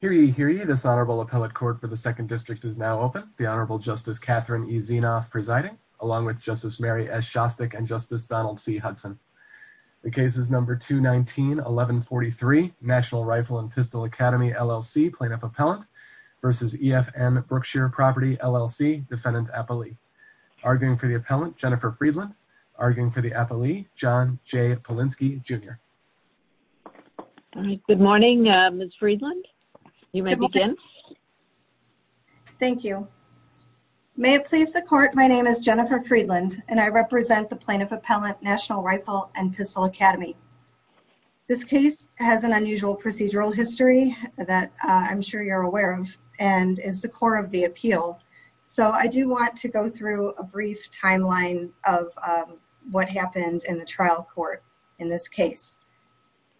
Hear ye, hear ye, this Honorable Appellate Court for the 2nd District is now open. The Honorable Justice Catherine E. Zinoff presiding, along with Justice Mary S. Shostak and Justice Donald C. Hudson. The case is number 219-1143, National Rifle and Pistol Academy, LLC, Plaintiff Appellant versus EFN Brookshire Property, LLC, Defendant Appellee. Arguing for the Appellant, Jennifer Friedland. Arguing for the Appellee, John J. Polinsky, Jr. All right, good morning, Ms. Friedland. You may begin. Good morning. Thank you. May it please the Court, my name is Jennifer Friedland and I represent the Plaintiff Appellant, National Rifle and Pistol Academy. This case has an unusual procedural history that I'm sure you're aware of and is the core of the appeal. I do want to go through a brief timeline of what happened in the trial court in this case.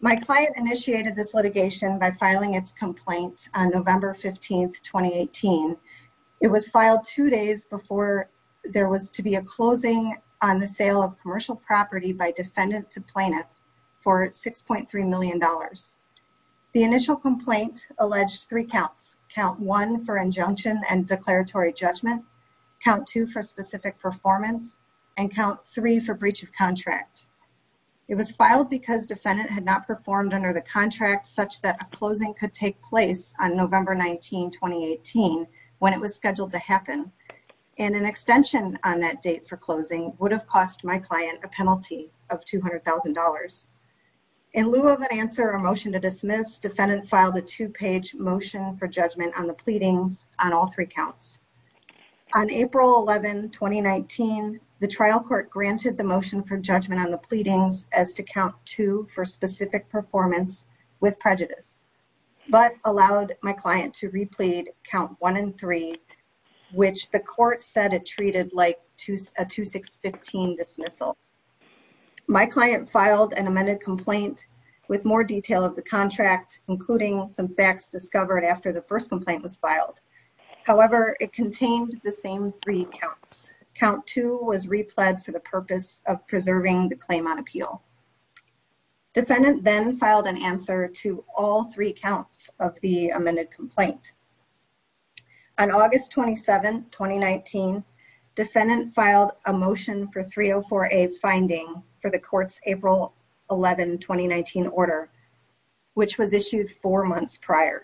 My client initiated this litigation by filing its complaint on November 15, 2018. It was filed two days before there was to be a closing on the sale of commercial property by defendant to plaintiff for $6.3 million. The initial complaint alleged three counts, count one for injunction and declaratory judgment, count two for specific performance, and count three for breach of contract. It was filed because defendant had not performed under the contract such that a closing could take place on November 19, 2018 when it was scheduled to happen and an extension on that date for closing would have cost my client a penalty of $200,000. In lieu of an answer or motion to dismiss, defendant filed a two-page motion for judgment on the pleadings on all three counts. On April 11, 2019, the trial court granted the motion for judgment on the pleadings as to count two for specific performance with prejudice, but allowed my client to replead count one and three, which the court said it treated like a 2615 dismissal. My client filed an amended complaint with more detail of the contract, including some facts discovered after the first complaint was filed. However, it contained the same three counts. Count two was replead for the purpose of preserving the claim on appeal. Defendant then filed an answer to all three counts of the amended complaint. On August 27, 2019, defendant filed a motion for 304A finding for the court's April 11, 2019 order, which was issued four months prior.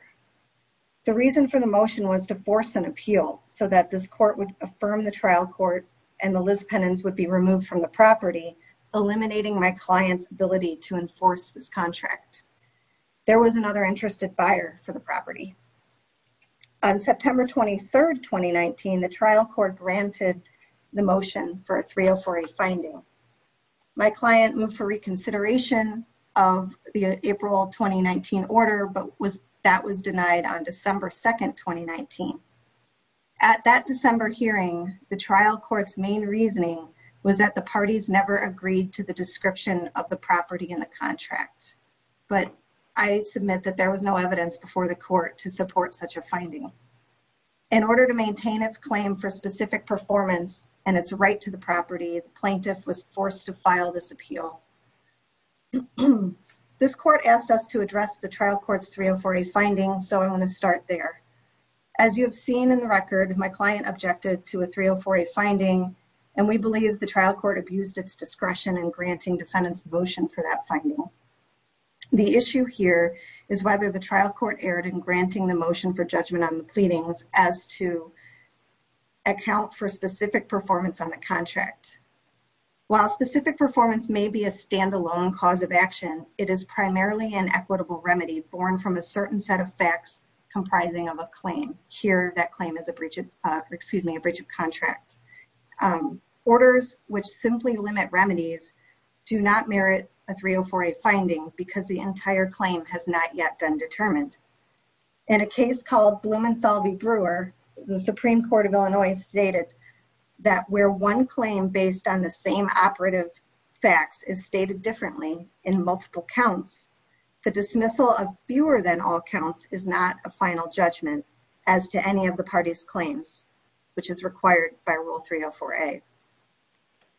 The reason for the motion was to force an appeal so that this court would affirm the trial court and the Liz penance would be removed from the property, eliminating my client's ability to enforce this contract. There was another interested buyer for the property. On September 23, 2019, the trial court granted the motion for a 304A finding. My client moved for reconsideration of the April 2019 order, but that was denied on December 2, 2019. At that December hearing, the trial court's main reasoning was that the parties never agreed to the description of the property in the contract, but I submit that there was no evidence before the court to support such a finding. In order to maintain its claim for specific performance and its right to the property, the plaintiff was forced to file this appeal. This court asked us to address the trial court's 304A finding, so I want to start there. As you have seen in the record, my client objected to a 304A finding, and we believe the trial court abused its discretion in granting defendants' devotion for that finding. The issue here is whether the trial court erred in granting the motion for judgment on the pleadings as to account for specific performance on the contract. While specific performance may be a standalone cause of action, it is primarily an equitable remedy born from a certain set of facts comprising of a claim. Here that claim is a breach of contract. Orders which simply limit remedies do not merit a 304A finding because the entire claim has not yet been determined. In a case called Blumenthal v. Brewer, the Supreme Court of Illinois stated that where one claim based on the same operative facts is stated differently in multiple counts, the dismissal of fewer than all counts is not a final judgment as to any of the parties' claims, which is required by Rule 304A.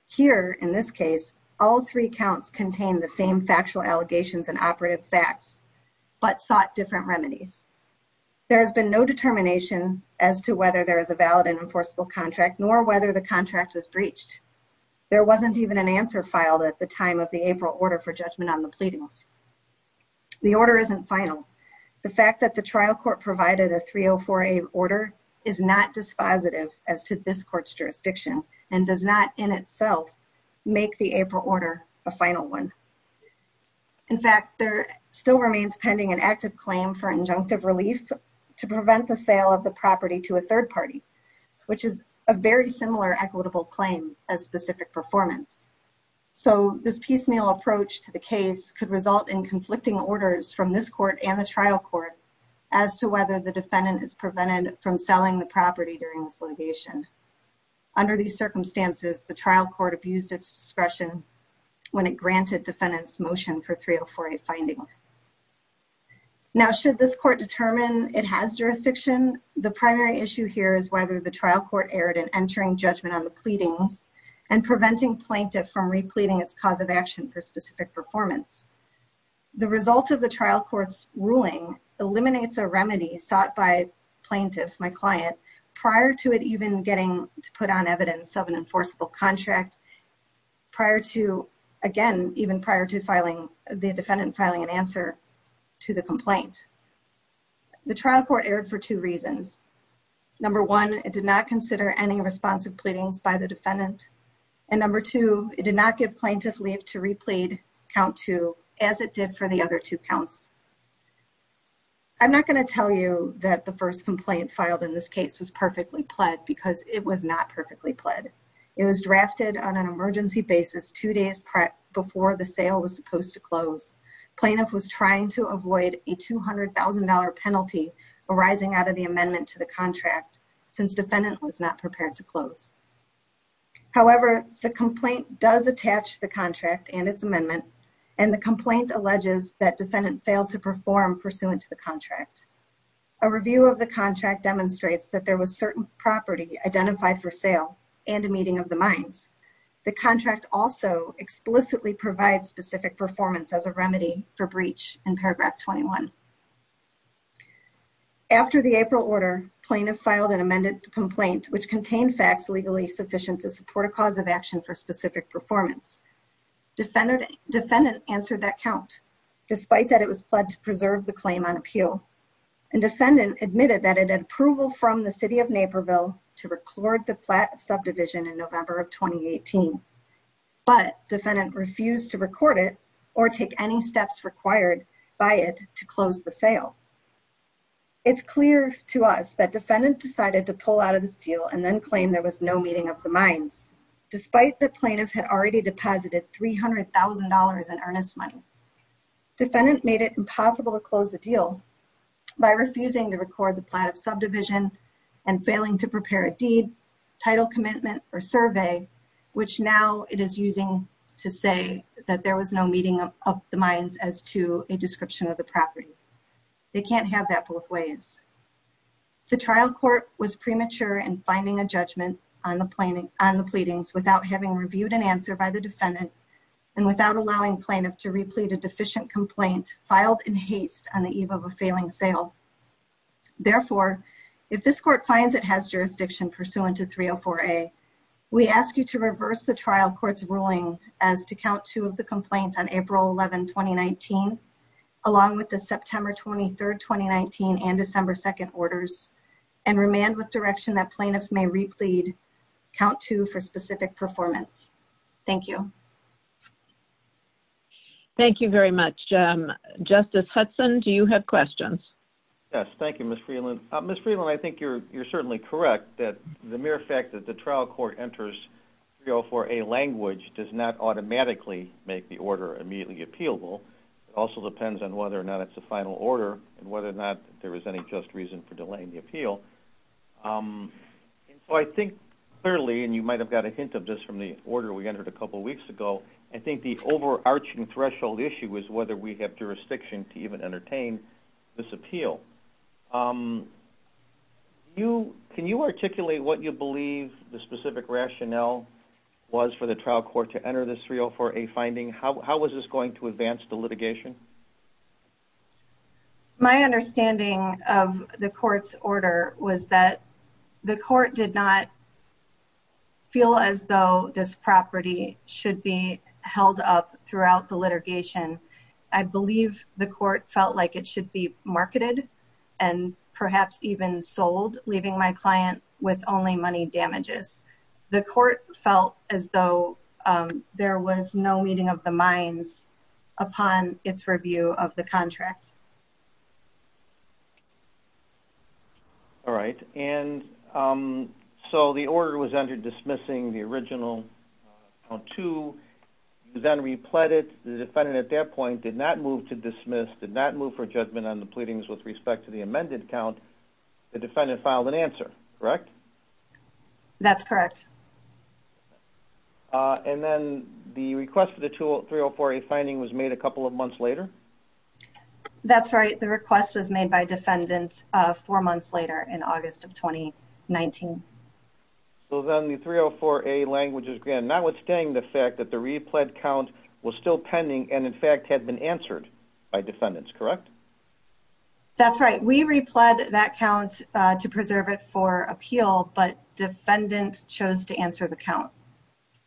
Here in this case, all three counts contained the same factual allegations and operative facts, but sought different remedies. There has been no determination as to whether there is a valid and enforceable contract, nor whether the contract was breached. There wasn't even an answer filed at the time of the April order for judgment on the pleadings. The order isn't final. The fact that the trial court provided a 304A order is not dispositive as to this court's jurisdiction and does not in itself make the April order a final one. In fact, there still remains pending an active claim for injunctive relief to prevent the sale of the property to a third party, which is a very similar equitable claim as specific performance. So, this piecemeal approach to the case could result in conflicting orders from this court and the trial court as to whether the defendant is prevented from selling the property during this litigation. Under these circumstances, the trial court abused its discretion when it granted defendants' motion for 304A finding. Now, should this court determine it has jurisdiction, the primary issue here is whether the trial court erred in entering judgment on the pleadings and preventing plaintiff from repleting its cause of action for specific performance. The result of the trial court's ruling eliminates a remedy sought by plaintiff, my client, prior to it even getting to put on evidence of an enforceable contract, again, even prior to the defendant filing an answer to the complaint. The trial court erred for two reasons. Number one, it did not consider any responsive pleadings by the defendant. And number two, it did not give plaintiff leave to replete count two as it did for the other two counts. I'm not going to tell you that the first complaint filed in this case was perfectly pled because it was not perfectly pled. It was drafted on an emergency basis two days before the sale was supposed to close. Plaintiff was trying to avoid a $200,000 penalty arising out of the amendment to the contract since defendant was not prepared to close. However, the complaint does attach the contract and its amendment and the complaint alleges that defendant failed to perform pursuant to the contract. A review of the contract demonstrates that there was certain property identified for sale and a meeting of the minds. The contract also explicitly provides specific performance as a remedy for breach in paragraph 21. After the April order, plaintiff filed an amended complaint which contained facts legally sufficient to support a cause of action for specific performance. Defendant answered that count, despite that it was pled to preserve the claim on appeal. And defendant admitted that it had approval from the city of Naperville to record the plat of subdivision in November of 2018, but defendant refused to record it or take any action to close the sale. It's clear to us that defendant decided to pull out of this deal and then claim there was no meeting of the minds. Despite the plaintiff had already deposited $300,000 in earnest money. Defendant made it impossible to close the deal by refusing to record the plat of subdivision and failing to prepare a deed, title commitment, or survey, which now it is using to say that there was no meeting of the minds as to a description of the property. They can't have that both ways. The trial court was premature in finding a judgment on the pleadings without having reviewed an answer by the defendant and without allowing plaintiff to replete a deficient complaint filed in haste on the eve of a failing sale. Therefore, if this court finds it has jurisdiction pursuant to 304A, we ask you to reverse the complaint on April 11, 2019, along with the September 23, 2019, and December 2nd orders and remand with direction that plaintiff may replete count two for specific performance. Thank you. Thank you very much, Justice Hudson. Do you have questions? Yes. Thank you, Ms. Freeland. Ms. Freeland, I think you're certainly correct that the mere fact that the trial court enters 304A language does not automatically make the order immediately appealable. It also depends on whether or not it's a final order and whether or not there is any just reason for delaying the appeal. I think clearly, and you might have got a hint of this from the order we entered a couple weeks ago, I think the overarching threshold issue is whether we have jurisdiction to even entertain this appeal. Ms. Freeland, can you articulate what you believe the specific rationale was for the trial court to enter this 304A finding? How was this going to advance the litigation? My understanding of the court's order was that the court did not feel as though this property should be held up throughout the litigation. I believe the court felt like it should be marketed and perhaps even sold, leaving my client with only money damages. The court felt as though there was no meeting of the minds upon its review of the contract. All right. The order was entered dismissing the original count two, then repled it, the defendant at that point did not move to dismiss, did not move for judgment on the pleadings with respect to the amended count, the defendant filed an answer, correct? That's correct. Then the request for the 304A finding was made a couple of months later? That's right. The request was made by defendants four months later in August of 2019. So then the 304A language is notwithstanding the fact that the repled count was still pending and in fact had been answered by defendants, correct? That's right. We repled that count to preserve it for appeal, but defendant chose to answer the count.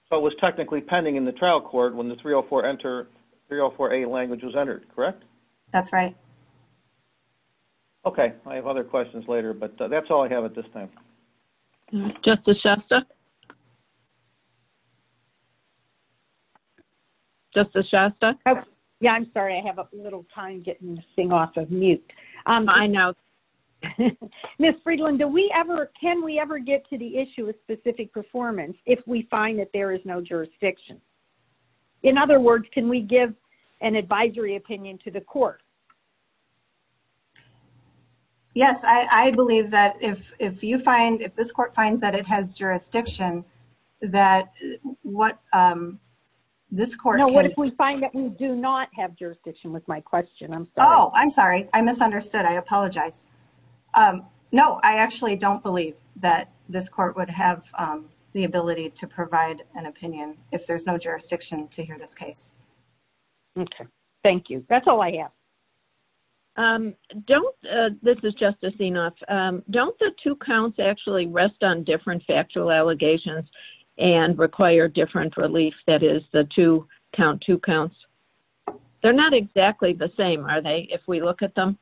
So it was technically pending in the trial court when the 304A language was entered, correct? That's right. Okay. I have other questions later, but that's all I have at this time. Justice Shasta? Justice Shasta? Yeah, I'm sorry. I have a little time getting this thing off of mute. I know. Ms. Friedland, do we ever, can we ever get to the issue of specific performance if we find that there is no jurisdiction? In other words, can we give an advisory opinion to the court? Yes, I believe that if you find, if this court finds that it has jurisdiction, that what this court can... No, what if we find that we do not have jurisdiction with my question? I'm sorry. Oh, I'm sorry. I misunderstood. I apologize. No, I actually don't believe that this court would have the ability to provide an opinion if there's no jurisdiction to hear this case. Okay. Thank you. That's all I have. Don't, this is Justice Enoff, don't the two counts actually rest on different factual allegations and require different relief? That is the two count, two counts. They're not exactly the same, are they, if we look at them?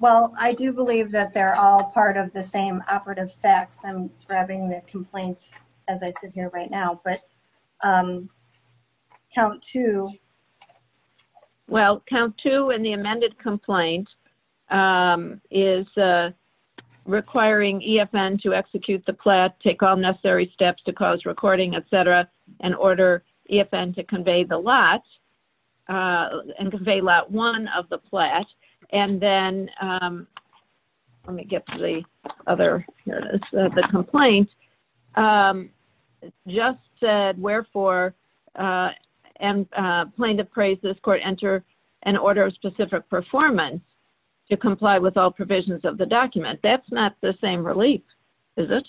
Well, I do believe that they're all part of the same operative facts. I'm grabbing the complaint as I sit here right now, but count two. Well, count two in the amended complaint is requiring EFN to execute the plan, take all and convey lot one of the plat, and then, let me get to the other, here it is, the complaint, just said, wherefore, and plaintiff prays this court enter an order of specific performance to comply with all provisions of the document. That's not the same relief, is it?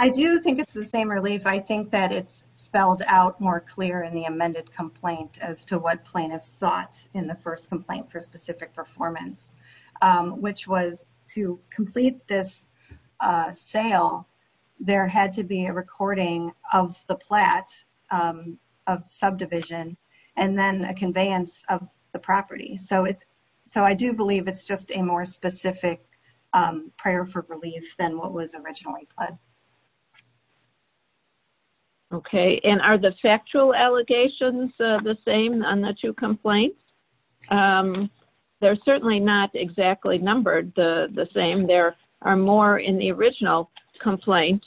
I do think it's the same relief. I think that it's spelled out more clear in the amended complaint as to what plaintiffs sought in the first complaint for specific performance, which was to complete this sale, there had to be a recording of the plat of subdivision and then a conveyance of the property. I do believe it's just a more specific prayer for relief than what was originally pled. Okay, and are the factual allegations the same on the two complaints? They're certainly not exactly numbered the same. There are more in the original complaint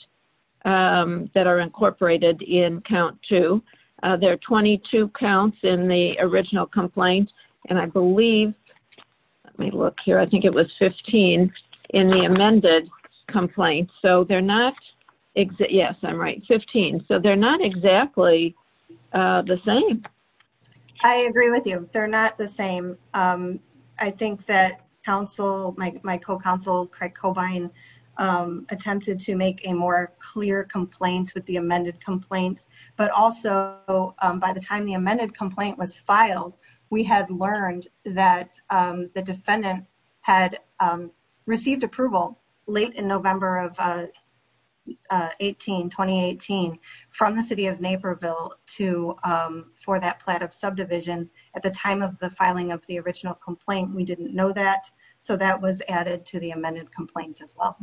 that are incorporated in count two. There are 22 counts in the original complaint, and I believe, let me look here, I think it was 15 in the amended complaint. So, they're not, yes, I'm right, 15. So, they're not exactly the same. I agree with you. They're not the same. I think that counsel, my co-counsel Craig Cobine attempted to make a more clear complaint with the amended complaint, but also by the time the amended complaint was filed, we had learned that the defendant had received approval late in November of 18, 2018, from the city of Naperville for that plat of subdivision at the time of the filing of the original complaint. We didn't know that, so that was added to the amended complaint as well.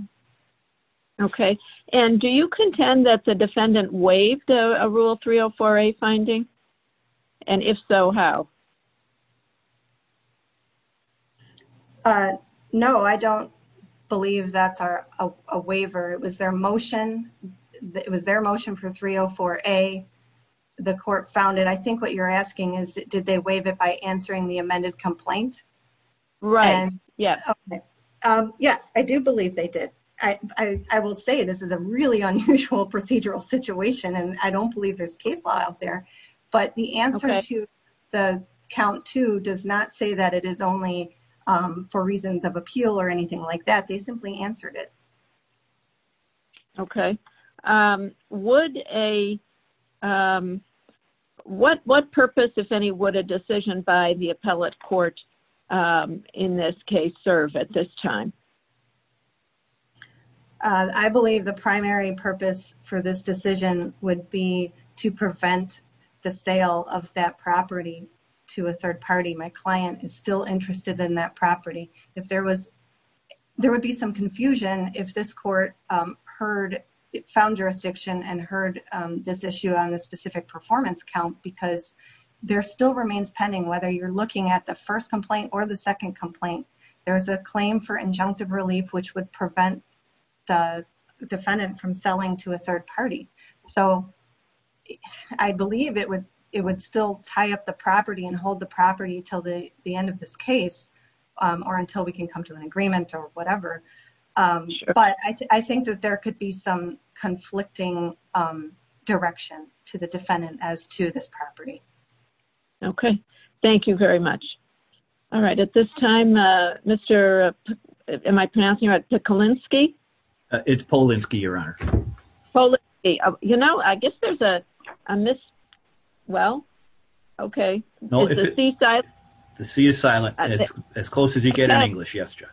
Okay. And do you contend that the defendant waived a Rule 304A finding? And if so, how? No, I don't believe that's a waiver. It was their motion. It was their motion for 304A. The court found it. I think what you're asking is did they waive it by answering the amended complaint? Right. Yes. I do believe they did. I will say this is a really unusual procedural situation, and I don't believe there's case law out there, but the answer to the count two does not say that it is only for reasons of appeal or anything like that. They simply answered it. Okay. What purpose, if any, would a decision by the appellate court in this case serve at this time? I believe the primary purpose for this decision would be to prevent the sale of that property to a third party. My client is still interested in that property. There would be some confusion if this court found jurisdiction and heard this issue on the specific performance count because there still remains pending, whether you're looking at the first complaint or the second complaint. There's a claim for injunctive relief, which would prevent the defendant from selling to a third party. So I believe it would still tie up the property and hold the property until the end of this case or until we can come to an agreement or whatever. But I think that there could be some conflicting direction to the defendant as to this property. Okay. Thank you very much. All right. At this time, Mr. Am I pronouncing you right? Polinsky? It's Polinsky, Your Honor. Polinsky. You know, I guess there's a mis... Well, okay. Is the C silent? The C is silent. As close as you get in English. Yes, Judge.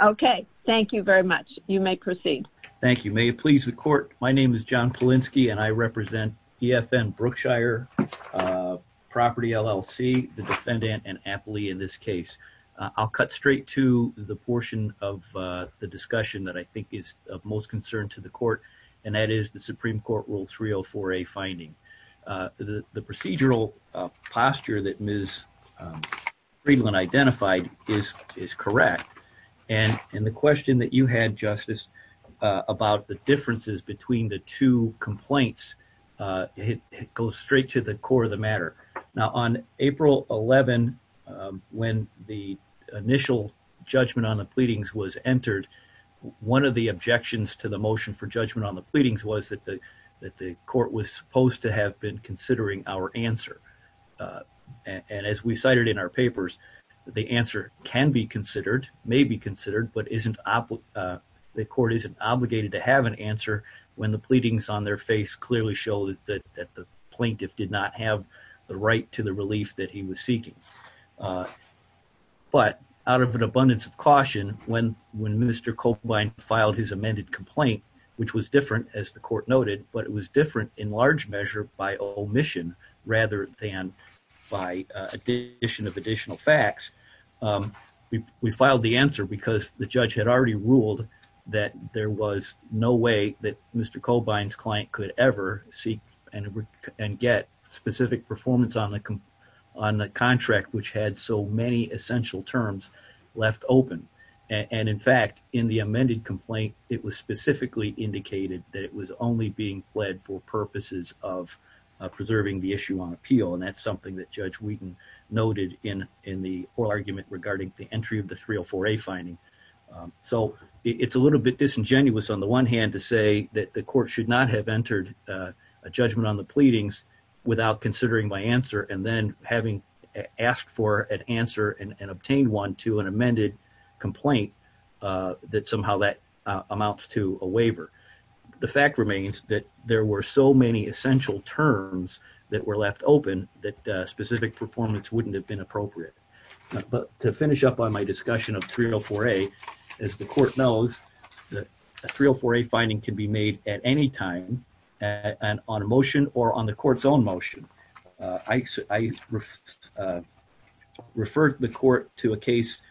Okay. Thank you very much. You may proceed. Thank you. May it please the court. My name is John Polinsky and I represent EFN Brookshire Property LLC, the defendant and aptly in this case. I'll cut straight to the portion of the discussion that I think is of most concern to the court and that is the Supreme Court Rule 304A finding. The procedural posture that Ms. Friedland identified is correct. And the question that you had, Justice, about the differences between the two complaints goes straight to the core of the matter. Now, on April 11, when the initial judgment on the pleadings was entered, one of the objections to the motion for judgment on the pleadings was that the court was supposed to have been considering our answer. And as we cited in our papers, the answer can be considered, may be considered, but the court isn't obligated to have an answer when the pleadings on their face clearly show that the plaintiff did not have the right to the relief that he was seeking. But out of an abundance of caution, when Mr. Cobine filed his amended complaint, which was different, as the court noted, but it was different in large measure by omission rather than by addition of additional facts, we filed the answer because the judge had already ruled that there was no way that Mr. Cobine's client could ever seek and get specific performance on the contract which had so many essential terms left open. And in fact, in the amended complaint, it was specifically indicated that it was only being pled for purposes of preserving the issue on appeal. And that's something that Judge Wheaton noted in the oral argument regarding the entry of the 304A finding. So it's a little bit disingenuous on the one hand to say that the court should not have entered a judgment on the pleadings without considering my answer and then having asked for an answer and obtained one to an amended complaint that somehow that amounts to a waiver. The fact remains that there were so many essential terms that were left open that specific performance wouldn't have been appropriate. But to finish up on my discussion of 304A, as the court knows, the 304A finding can be made at any time on a motion or on the court's own motion. I referred the court to a case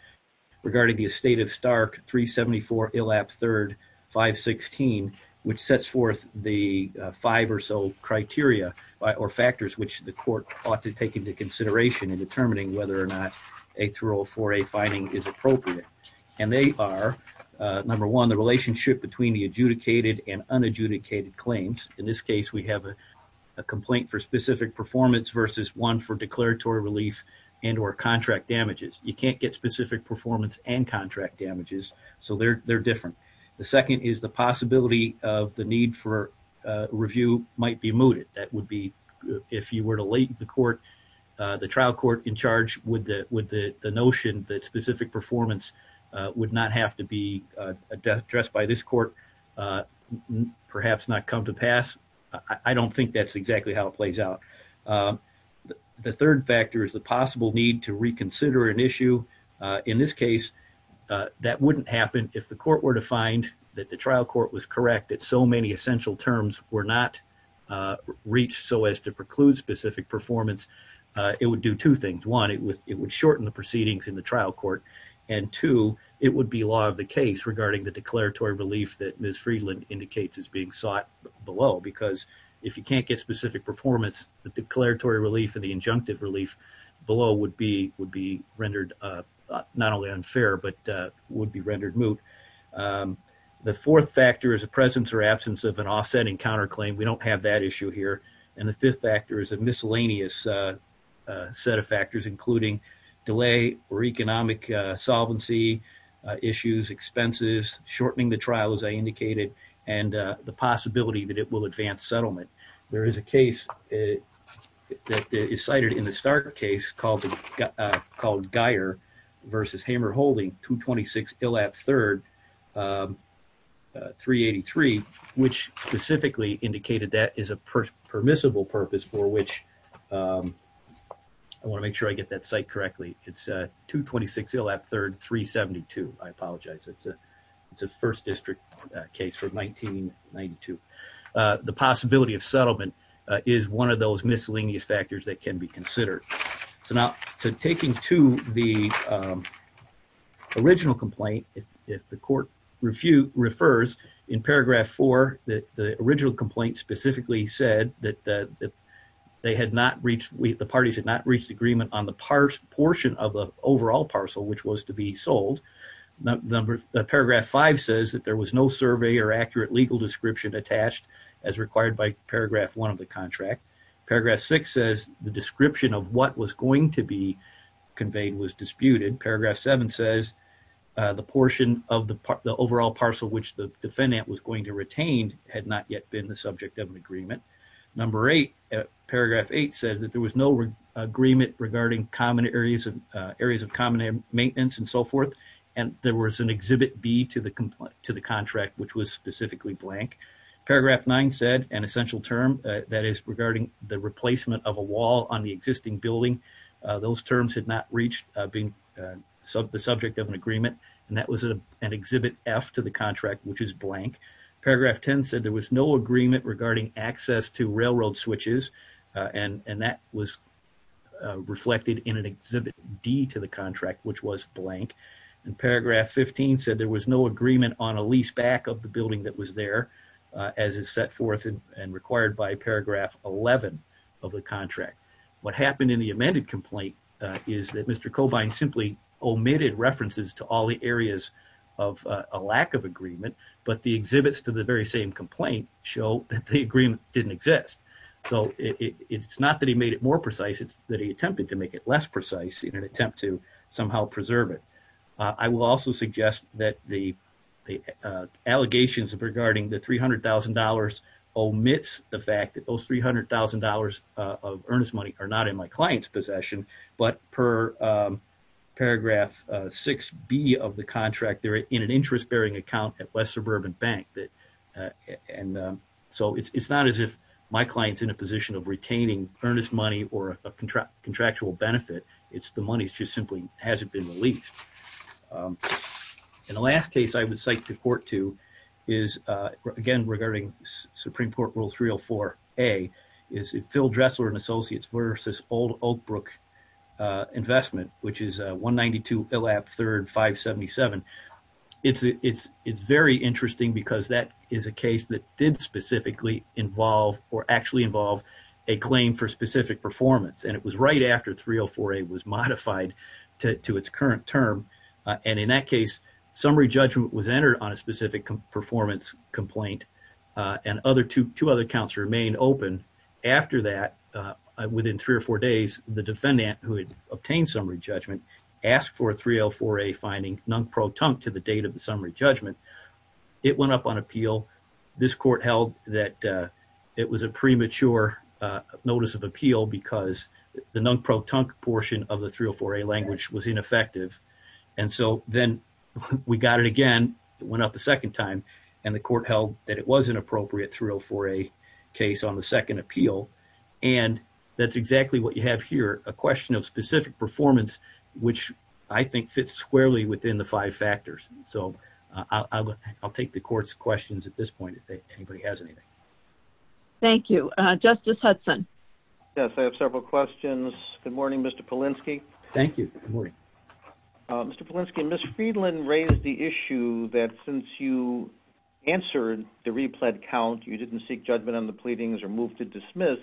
regarding the estate of Stark 374 Illap 3rd 516 which sets forth the five or so criteria or factors which the court ought to take into consideration in determining whether or not a 304A finding is appropriate. And they are, number one, the relationship between the adjudicated and unadjudicated claims. In this case, we have a complaint for specific performance versus one for declaratory relief and or contract damages. You can't get specific performance and contract damages. So they're different. The second is the possibility of the need for review might be mooted. That would be if you were to lay the court, the trial court in charge with the notion that specific performance would not have to be addressed by this court, perhaps not come to pass. I don't think that's exactly how it plays out. The third factor is the possible need to reconsider an issue. In this case, that wouldn't happen if the court were to find that the trial court was correct that so many essential terms were not reached so as to preclude specific performance. It would do two things. One, it would shorten the proceedings in the trial court. And two, it would be law of the case regarding the declaratory relief that Ms. Friedland indicates is being sought below. Because if you can't get specific performance, the declaratory relief and the injunctive relief below would be rendered not only unfair, but would be rendered moot. The fourth factor is a presence or absence of an offsetting counterclaim. We don't have that issue here. And the fifth factor is a miscellaneous set of factors, including delay or economic solvency issues, expenses, shortening the trial, as I indicated, and the possibility that it will advance settlement. There is a case that is cited in the Stark case called Geier v. Hammer-Holding, 226 Illap 3rd, 383, which specifically indicated that is a permissible purpose for which I want to make sure I get that site correctly. It's 226 Illap 3rd, 372. I apologize. It's a first district case from 1992. The possibility of settlement is one of those miscellaneous factors that can be considered. So now, taking to the original complaint, if the court refers, in paragraph 4, the original complaint specifically said that the parties had not reached agreement on the portion of the overall parcel, which was to be sold. Paragraph 5 says that there was no survey or accurate legal description attached as required by paragraph 1 of the contract. Paragraph 6 says the description of what was going to be conveyed was disputed. Paragraph 7 says the portion of the overall parcel, which the defendant was going to retain, had not yet been the subject of an agreement. Number 8, paragraph 8, says that there was no agreement regarding areas of common maintenance and so forth, and there was an exhibit B to the contract, which was specifically blank. Paragraph 9 said an essential term that is regarding the replacement of a wall on the existing building. Those terms had not reached being the subject of an agreement, and that was an exhibit F to the contract, which is blank. Paragraph 10 said there was no agreement regarding access to railroad switches, and that was reflected in an exhibit D to the contract, which was blank. And paragraph 15 said there was no agreement on a lease back of the building that was there, as is set forth and required by paragraph 11 of the contract. What happened in the amended complaint is that Mr. Cobine simply omitted references to all the areas of a lack of agreement, but the exhibits to the very same complaint show that the agreement didn't exist. So it's not that he made it more precise, it's that he attempted to make it less I will also suggest that the allegations regarding the $300,000 omits the fact that those $300,000 of earnest money are not in my client's possession, but per paragraph 6B of the contract, they're in an interest-bearing account at West Suburban Bank, and so it's not as if my client's in a position of retaining earnest money or a contractual benefit. It's the money just simply hasn't been released. And the last case I would cite the court to is, again, regarding Supreme Court Rule 304A, is Phil Dressler & Associates v. Old Oak Brook Investment, which is 192 Illap 3rd 577. It's very interesting because that is a case that did specifically involve or actually involve a claim for specific performance, and it was right after 304A was modified to its current term. And in that case, summary judgment was entered on a specific performance complaint, and two other counts remained open. After that, within three or four days, the defendant, who had obtained summary judgment, asked for a 304A finding non-pro-tump to the date of the summary judgment. It went up on appeal. This court held that it was a premature notice of appeal because the non-pro-tump portion of the 304A language was ineffective. And so then we got it again. It went up a second time, and the court held that it was an appropriate 304A case on the second appeal. And that's exactly what you have here, a question of specific performance, which I think fits squarely within the five factors. So I'll take the court's questions at this point if anybody has anything. Thank you. Justice Hudson. Yes, I have several questions. Good morning, Mr. Polinsky. Thank you. Good morning. Mr. Polinsky, Ms. Friedland raised the issue that since you answered the repled count, you didn't seek judgment on the pleadings or move to dismiss.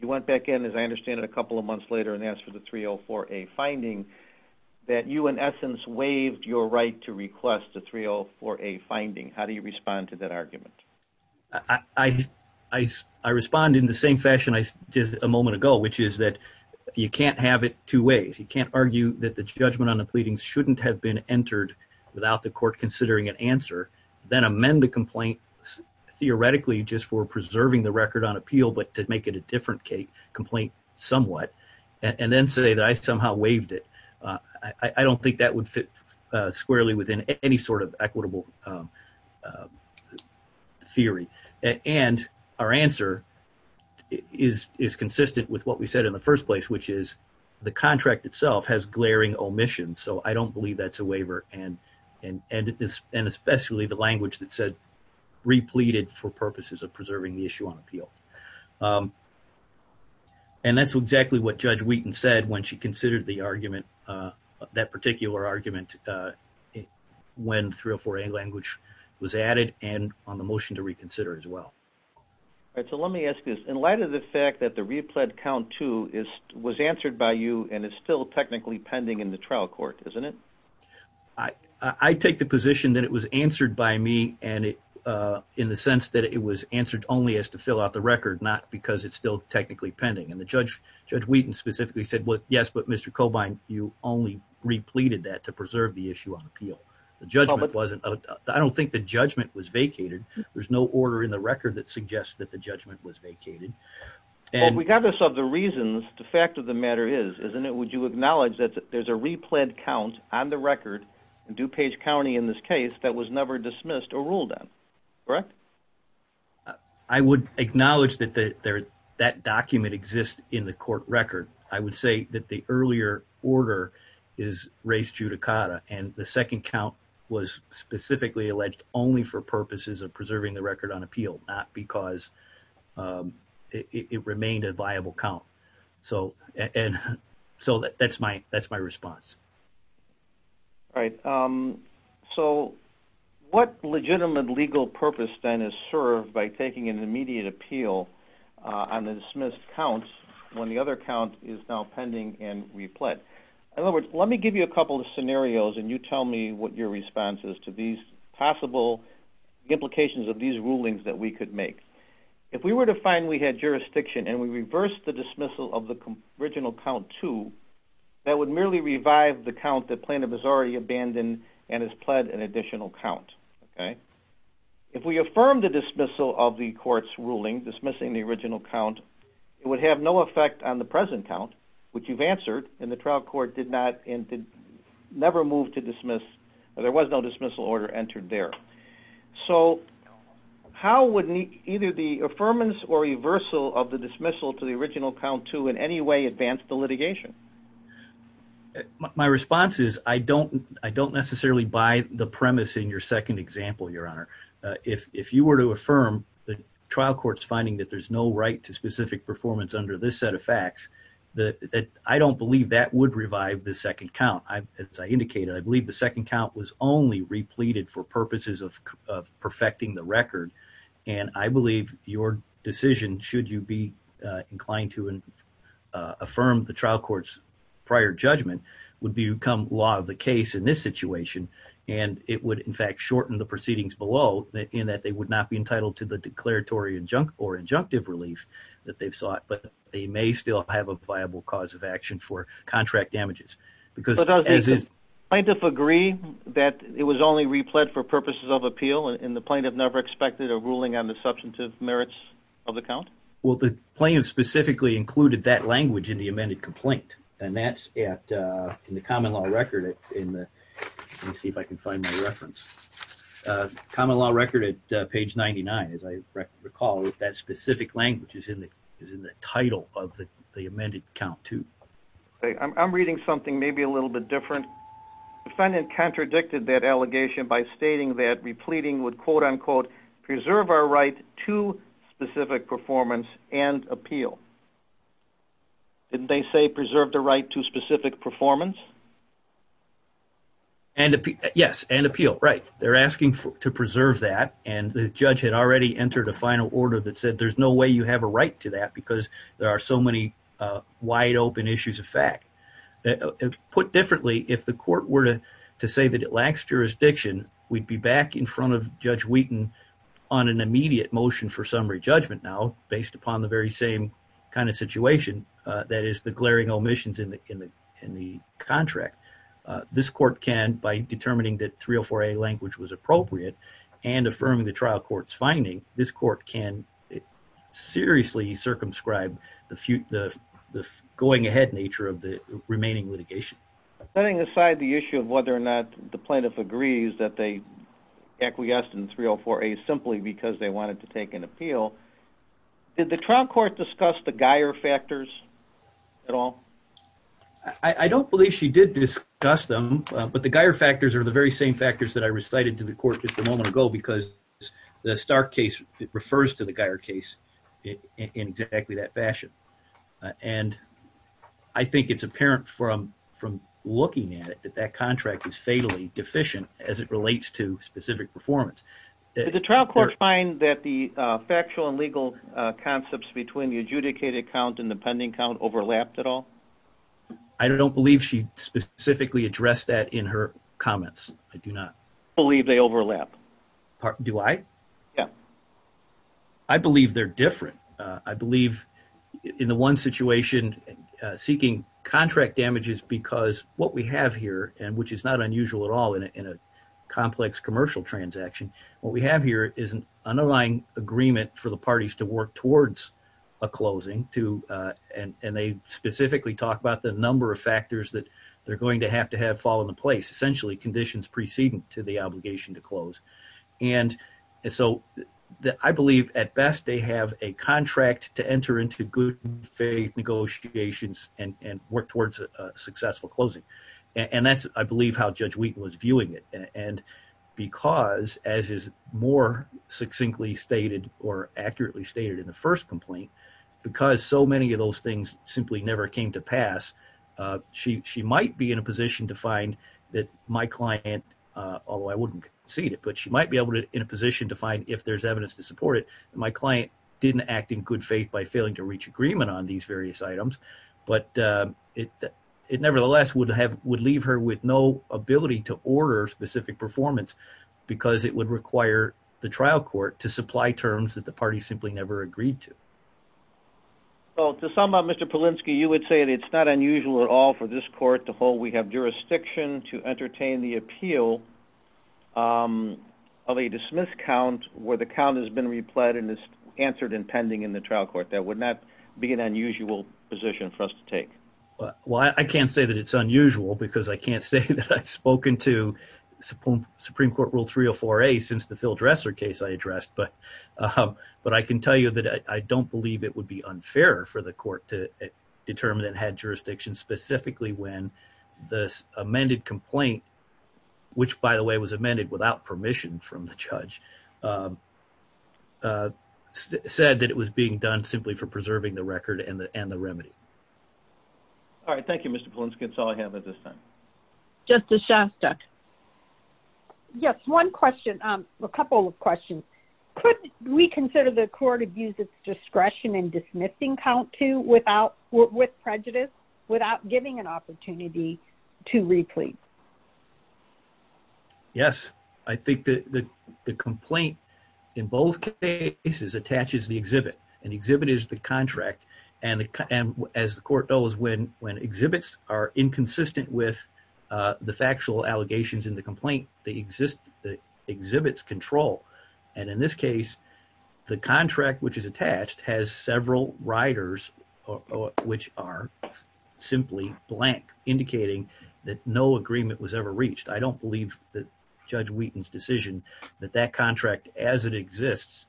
You went back in, as I understand it, a couple of months later and asked for the 304A finding that you, in essence, waived your right to request the 304A finding. How do you respond to that argument? I respond in the same fashion I did a moment ago, which is that you can't have it two ways. You can't argue that the judgment on the pleadings shouldn't have been entered without the court considering an answer, then amend the complaint theoretically just for preserving the record on appeal but to make it a different complaint somewhat, and then say that I somehow waived it. I don't think that would fit squarely within any sort of equitable theory, and our answer is consistent with what we said in the first place, which is the contract itself has glaring omissions, so I don't believe that's a waiver, and especially the language that said repleted for purposes of preserving the issue on appeal. And that's exactly what Judge Wheaton said when she considered the argument, that particular argument, when 304A language was added and on the motion to reconsider as well. All right, so let me ask you this. In light of the fact that the replet count, too, was answered by you and is still technically pending in the trial court, isn't it? I take the position that it was answered by me in the sense that it was answered only as to fill out the record, not because it's still technically pending, and Judge Wheaton specifically said, yes, but Mr. Cobine, you only repleted that to preserve the issue on appeal. I don't think the judgment was vacated. There's no order in the record that suggests that the judgment was vacated. Well, regardless of the reasons, the fact of the matter is, isn't it, would you acknowledge that there's a replet count on the record in DuPage County in this case that was never dismissed or ruled on, correct? I would acknowledge that that document exists in the court record. I would say that the earlier order is res judicata, and the second count was specifically alleged only for purposes of preserving the record on appeal, not because it remained a viable count. So that's my response. All right. So what legitimate legal purpose, then, is served by taking an immediate appeal on the dismissed counts when the other count is now pending and replet? In other words, let me give you a couple of scenarios, and you tell me what your response is to these possible implications of these rulings that we could make. If we were to find we had jurisdiction and we reversed the dismissal of the original count two, that would merely revive the count that plaintiff has already abandoned and has pled an additional count, okay? If we affirm the dismissal of the court's ruling dismissing the original count, it would have no effect on the present count, which you've answered, and the trial court did not and did never move to dismiss, or there was no dismissal order entered there. So how would either the affirmance or reversal of the dismissal to the original count two in any way advance the litigation? My response is I don't necessarily buy the premise in your second example, Your Honor. If you were to affirm the trial court's finding that there's no right to specific performance under this set of facts, I don't believe that would revive the second count. As I indicated, I believe the second count was only repleted for purposes of perfecting the record, and I believe your decision, should you be inclined to affirm the trial court's prior judgment, would become law of the case in this situation, and it would, in fact, shorten the proceedings below in that they would not be entitled to the declaratory or injunctive relief that they've sought, but they may still have a viable cause of action for contract damages. Does the plaintiff agree that it was only replete for purposes of appeal, and the plaintiff never expected a ruling on the substantive merits of the count? Well, the plaintiff specifically included that language in the amended complaint, and that's in the common law record. Let me see if I can find my reference. Common law record at page 99, as I recall, that specific language is in the title of the amended count two. I'm reading something maybe a little bit different. Defendant contradicted that allegation by stating that repleting would, quote-unquote, preserve our right to specific performance and appeal. Didn't they say preserve the right to specific performance? Yes, and appeal, right. They're asking to preserve that, and the judge had already entered a final order that said there's no way you have a right to that because there are so many wide-open issues of fact. Put differently, if the court were to say that it lacks jurisdiction, we'd be back in front of Judge Wheaton on an immediate motion for summary judgment now, based upon the very same kind of situation, that is, the glaring omissions in the contract. This court can, by determining that 304A language was appropriate and affirming the trial court's case, this court can seriously circumscribe the going-ahead nature of the remaining litigation. Setting aside the issue of whether or not the plaintiff agrees that they acquiesced in 304A simply because they wanted to take an appeal, did the trial court discuss the Geier factors at all? I don't believe she did discuss them, but the Geier factors are the very same factors that I recited to the court just a moment ago because the Stark case refers to the Geier case in exactly that fashion, and I think it's apparent from looking at it that that contract is fatally deficient as it relates to specific performance. Did the trial court find that the factual and legal concepts between the adjudicated count and the pending count overlapped at all? I don't believe she specifically addressed that in her comments. I do not. I believe they overlap. Do I? Yeah. I believe they're different. I believe in the one situation, seeking contract damages because what we have here, and which is not unusual at all in a complex commercial transaction, what we have here is an underlying agreement for the parties to work towards a closing, and they specifically talk about the number of factors that they're going to have to have fall into place, essentially conditions preceding to the obligation to close. And so I believe at best they have a contract to enter into good faith negotiations and work towards a successful closing. And that's, I believe, how Judge Wheaton was viewing it. And because, as is more succinctly stated or accurately stated in the first complaint, because so many of those things simply never came to pass, she might be in a position to find that my client, although I wouldn't concede it, but she might be in a position to find if there's evidence to support it, my client didn't act in good faith by failing to reach agreement on these various items. But it nevertheless would leave her with no ability to order specific performance because it would require the trial court to supply terms that the party simply never agreed to. Well, to sum up, Mr. Polinsky, you would say that it's not unusual at all for this court to hold we have jurisdiction to entertain the appeal of a dismissed count where the count has been replied and is answered and pending in the trial court. That would not be an unusual position for us to take. Well, I can't say that it's unusual because I can't say that I've spoken to Supreme Court Rule 304A since the Phil Dressler case I addressed. But I can tell you that I don't believe it would be unfair for the court to determine it had jurisdiction specifically when this amended complaint, which, by the way, was simply for preserving the record and the remedy. All right. Thank you, Mr. Polinsky. That's all I have at this time. Justice Shastuck. Yes. One question. A couple of questions. Could we consider the court abuse its discretion in dismissing count two with prejudice without giving an opportunity to reply? Yes. I think that the complaint in both cases attaches the exhibit. An exhibit is the contract. And as the court knows, when exhibits are inconsistent with the factual allegations in the complaint, the exhibits control. And in this case, the contract which is attached has several riders, which are simply blank, indicating that no agreement was ever reached. I don't believe that Judge Wheaton's decision that that contract as it exists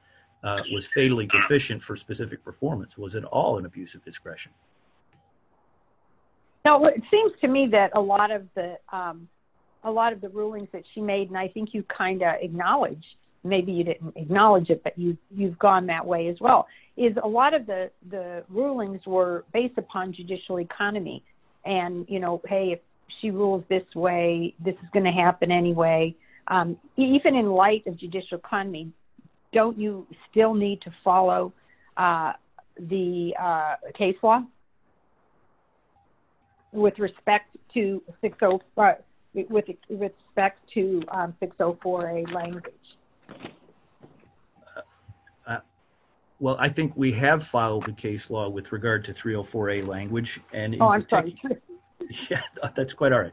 was fatally deficient for specific performance. Was it all an abuse of discretion? No. It seems to me that a lot of the rulings that she made, and I think you kind of acknowledged, maybe you didn't acknowledge it, but you've gone that way as well, is a lot of the rulings were based upon judicial economy. And, you know, hey, if she rules this way, this is going to happen anyway. Even in light of judicial economy, don't you still need to follow the case law? With respect to 604A language? Well, I think we have followed the case law with regard to 304A language. Oh, I'm sorry. That's quite all right.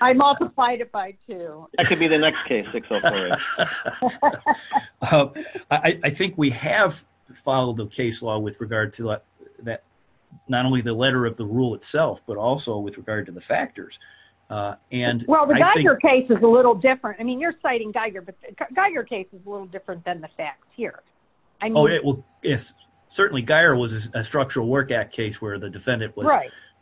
I multiplied it by two. That may be the next case, 604A. I think we have followed the case law with regard to not only the letter of the rule itself, but also with regard to the factors. Well, the Geiger case is a little different. I mean, you're citing Geiger, but the Geiger case is a little different than the facts here. Oh, yes. Certainly, Geiger was a Structural Work Act case where the defendant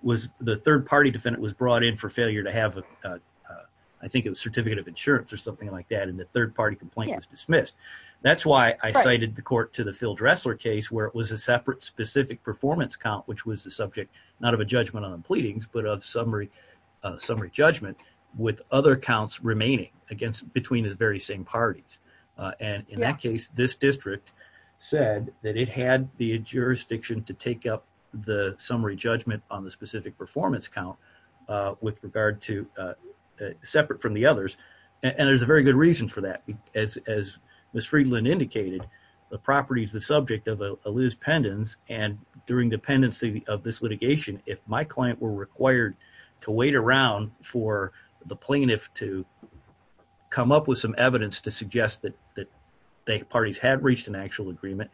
was, the third-party defendant was brought in for failure to have, I think it was certificate of insurance or something like that, and the third-party complaint was dismissed. That's why I cited the court to the Phil Dressler case where it was a separate specific performance count, which was the subject not of a judgment on the pleadings, but of summary judgment with other counts remaining between the very same parties. And in that case, this district said that it had the jurisdiction to take up the summary judgment on the specific performance count with regard to, separate from the others. And there's a very good reason for that. As Ms. Friedland indicated, the property is the subject of a loose pendant, and during the pendency of this litigation, if my client were required to wait around for the plaintiff to come up with some evidence to suggest that the parties had reached an actual agreement,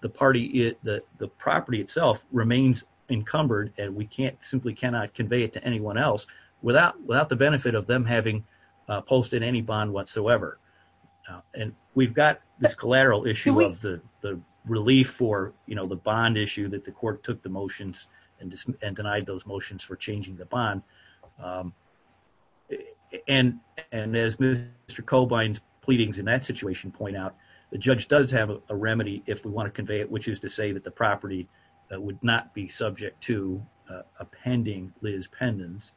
the property itself remains encumbered, and we simply cannot convey it to anyone else without the benefit of them having posted any bond whatsoever. And we've got this collateral issue of the relief for the bond issue that the court took the motions and denied those motions for changing the bond. And as Mr. Cobine's pleadings in that situation point out, the judge does have a remedy if we want to convey it, which is to say that the property would not be subject to a pending Liz pendants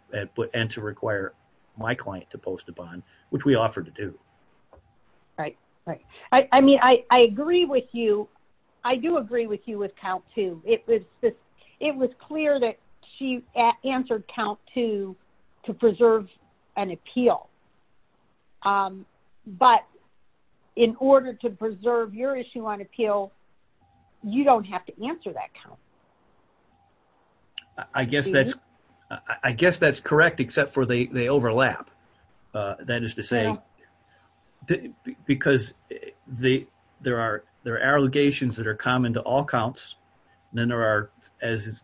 and to require my client to post a bond, which we offered to do. All right. All right. I mean, I agree with you. I do agree with you with count two. It was clear that she answered count two to preserve an appeal. But in order to preserve your issue on appeal, you don't have to answer that count. I guess that's correct, except for they overlap. That is to say, because there are allegations that are common to all counts. Then there are, as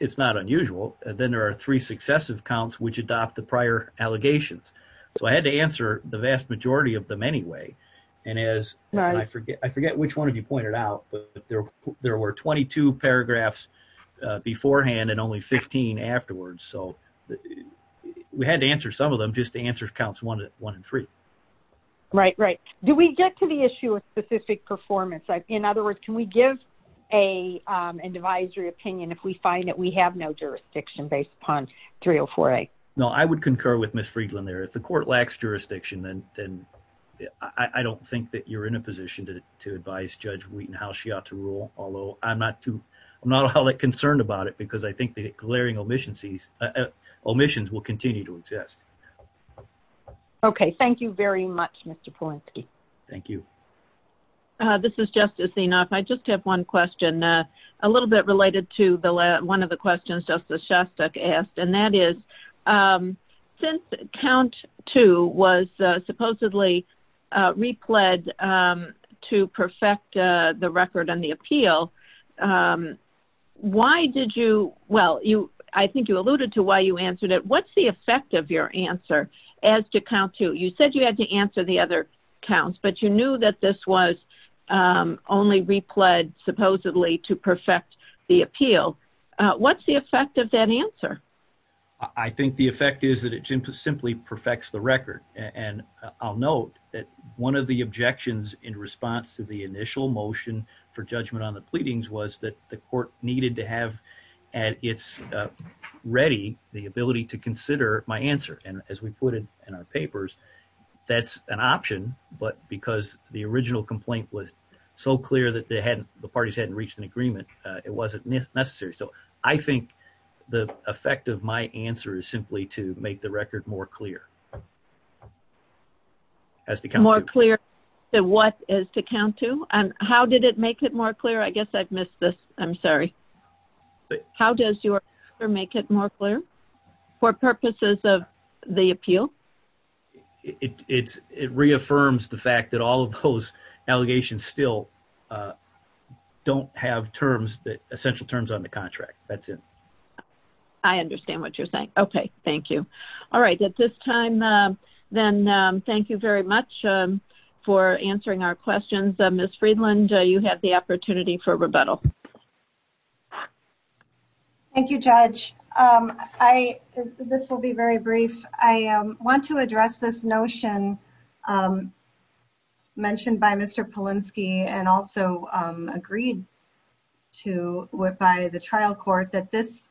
it's not unusual, then there are three successive counts which adopt the prior allegations. So I had to answer the vast majority of them anyway. And as I forget, I forget which one of you pointed out, but there were 22 paragraphs beforehand and only 15 afterwards. So we had to answer some of them just to answer counts one and three. Right, right. Do we get to the issue of specific performance? In other words, can we give an advisory opinion if we find that we have no jurisdiction based upon 304A? No, I would concur with Ms. Friedlander. If the court lacks jurisdiction, then I don't think that you're in a position to advise Judge Wheaton how she ought to rule, although I'm not all that concerned about it because I think the glaring omissions will continue to exist. Okay, thank you very much, Mr. Polinsky. Thank you. This is Justice Zinoff. I just have one question, a little bit related to one of the questions Justice Shostak asked, and that is, since count two was supposedly repled to perfect the record on the appeal, why did you, well, I think you alluded to why you answered it. What's the effect of your answer as to count two? You said you had to answer the other counts, but you knew that this was only repled supposedly to perfect the appeal. What's the effect of that answer? I think the effect is that it simply perfects the record, and I'll note that one of the court needed to have at its ready the ability to consider my answer, and as we put it in our papers, that's an option, but because the original complaint was so clear that the parties hadn't reached an agreement, it wasn't necessary. So I think the effect of my answer is simply to make the record more clear as to count two. And how did it make it more clear? I guess I've missed this. I'm sorry. How does your answer make it more clear for purposes of the appeal? It reaffirms the fact that all of those allegations still don't have terms, essential terms on the contract. That's it. I understand what you're saying. Okay. Thank you. All right. At this time, then, thank you very much for answering our questions. Ms. Friedland, you have the opportunity for rebuttal. Thank you, Judge. This will be very brief. I want to address this notion mentioned by Mr. Polinsky and also agreed to by the trial court that this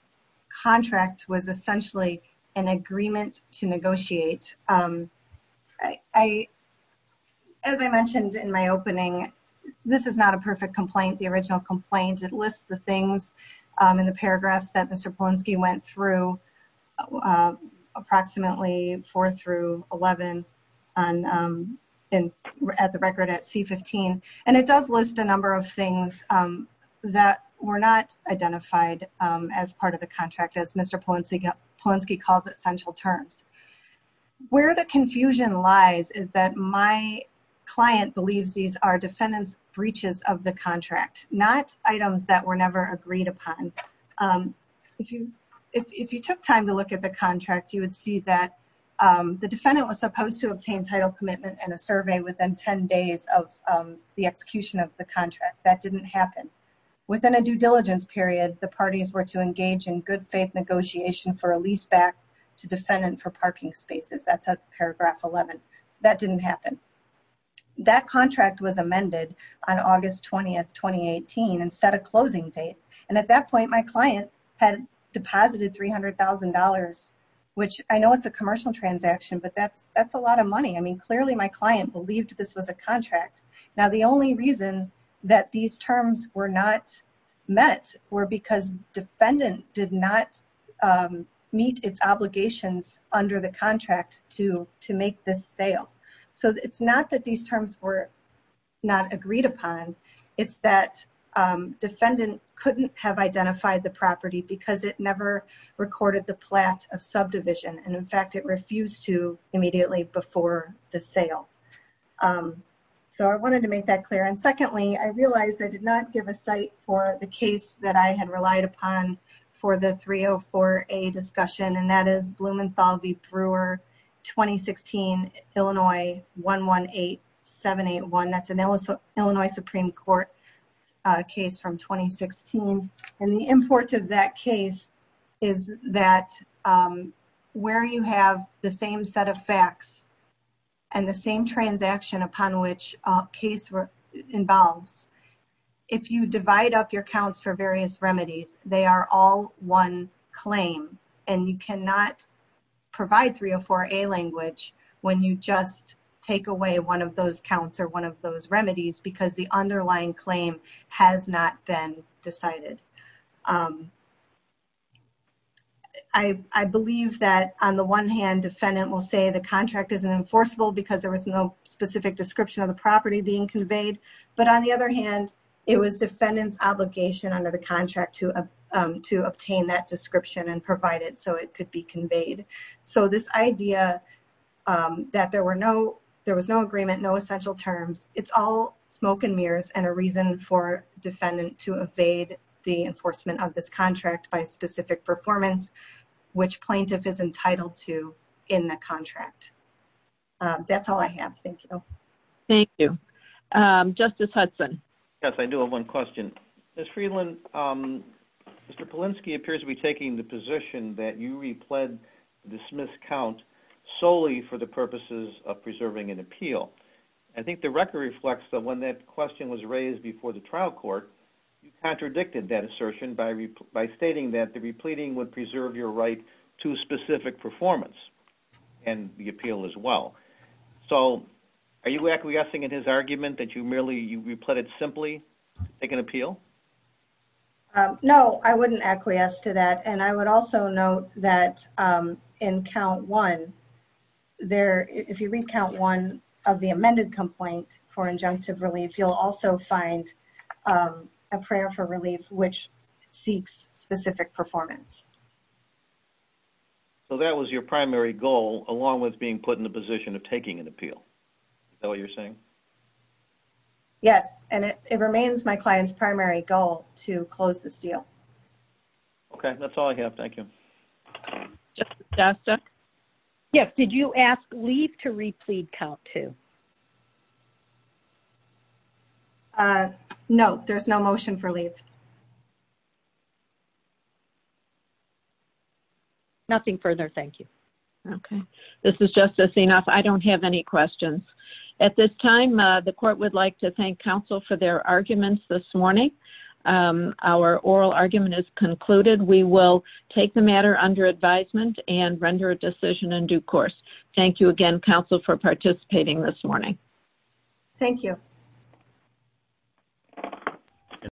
contract was essentially an agreement to negotiate. As I mentioned in my opening, this is not a perfect complaint. The original complaint lists the things in the paragraphs that Mr. Polinsky went through approximately four through 11 at the record at C-15. It does list a number of things that were not identified as part of the contract, as Mr. Polinsky calls it, essential terms. Where the confusion lies is that my client believes these are defendant's breaches of the contract, not items that were never agreed upon. If you took time to look at the contract, you would see that the defendant was the execution of the contract. That didn't happen. Within a due diligence period, the parties were to engage in good faith negotiation for a lease back to defendant for parking spaces. That's paragraph 11. That didn't happen. That contract was amended on August 20, 2018 and set a closing date. At that point, my client had deposited $300,000, which I know it's a commercial transaction, but that's a lot of money. Clearly, my client believed this was a contract. Now, the only reason that these terms were not met were because defendant did not meet its obligations under the contract to make this sale. It's not that these terms were not agreed upon. It's that defendant couldn't have identified the property because it never recorded the plat of subdivision, and in fact, it refused to immediately before the sale. I wanted to make that clear. Secondly, I realized I did not give a site for the case that I had relied upon for the 304A discussion, and that is Blumenthal v. Brewer, 2016, Illinois, 118781. That's an Illinois Supreme Court case from 2016. The importance of that case is that where you have the same set of facts and the same transaction upon which a case involves, if you divide up your counts for various remedies, they are all one claim. You cannot provide 304A language when you just take away one of those counts or one of those remedies because the underlying claim has not been decided. I believe that on the one hand, defendant will say the contract isn't enforceable because there was no specific description of the property being conveyed, but on the other hand, it was defendant's obligation under the contract to obtain that description and provide it so it could be conveyed. This idea that there was no agreement, no essential terms, it's all smoke and mirrors and a reason for defendant to evade the enforcement of this contract by specific performance, which plaintiff is entitled to in the contract. That's all I have. Thank you. Thank you. Justice Hudson. Yes, I do have one question. Ms. Friedland, Mr. Polinsky appears to be taking the position that you repled dismissed count solely for the purposes of preserving an appeal. I think the record reflects that when that question was raised before the trial court, you contradicted that assertion by stating that the repleting would preserve your right to specific performance and the appeal as well. Are you acquiescing in his argument that you merely repleted simply to take an appeal? No, I wouldn't acquiesce to that. I would also note that in count one, if you read count one of the amended complaint for injunctive relief, you'll also find a prayer for relief which seeks specific performance. So that was your primary goal along with being put in the position of taking an appeal. Is that what you're saying? Yes. And it remains my client's primary goal to close this deal. Okay. That's all I have. Thank you. Justice Costa. Yes. Did you ask leave to replete count two? No. There's no motion for leave. Nothing further. Thank you. Okay. This is Justice Zinoff. I don't have any questions. At this time, the court would like to thank counsel for their arguments this morning. Our oral argument is concluded. We will take the matter under advisement and render a decision in due course. Thank you again, counsel, for participating this morning. Thank you.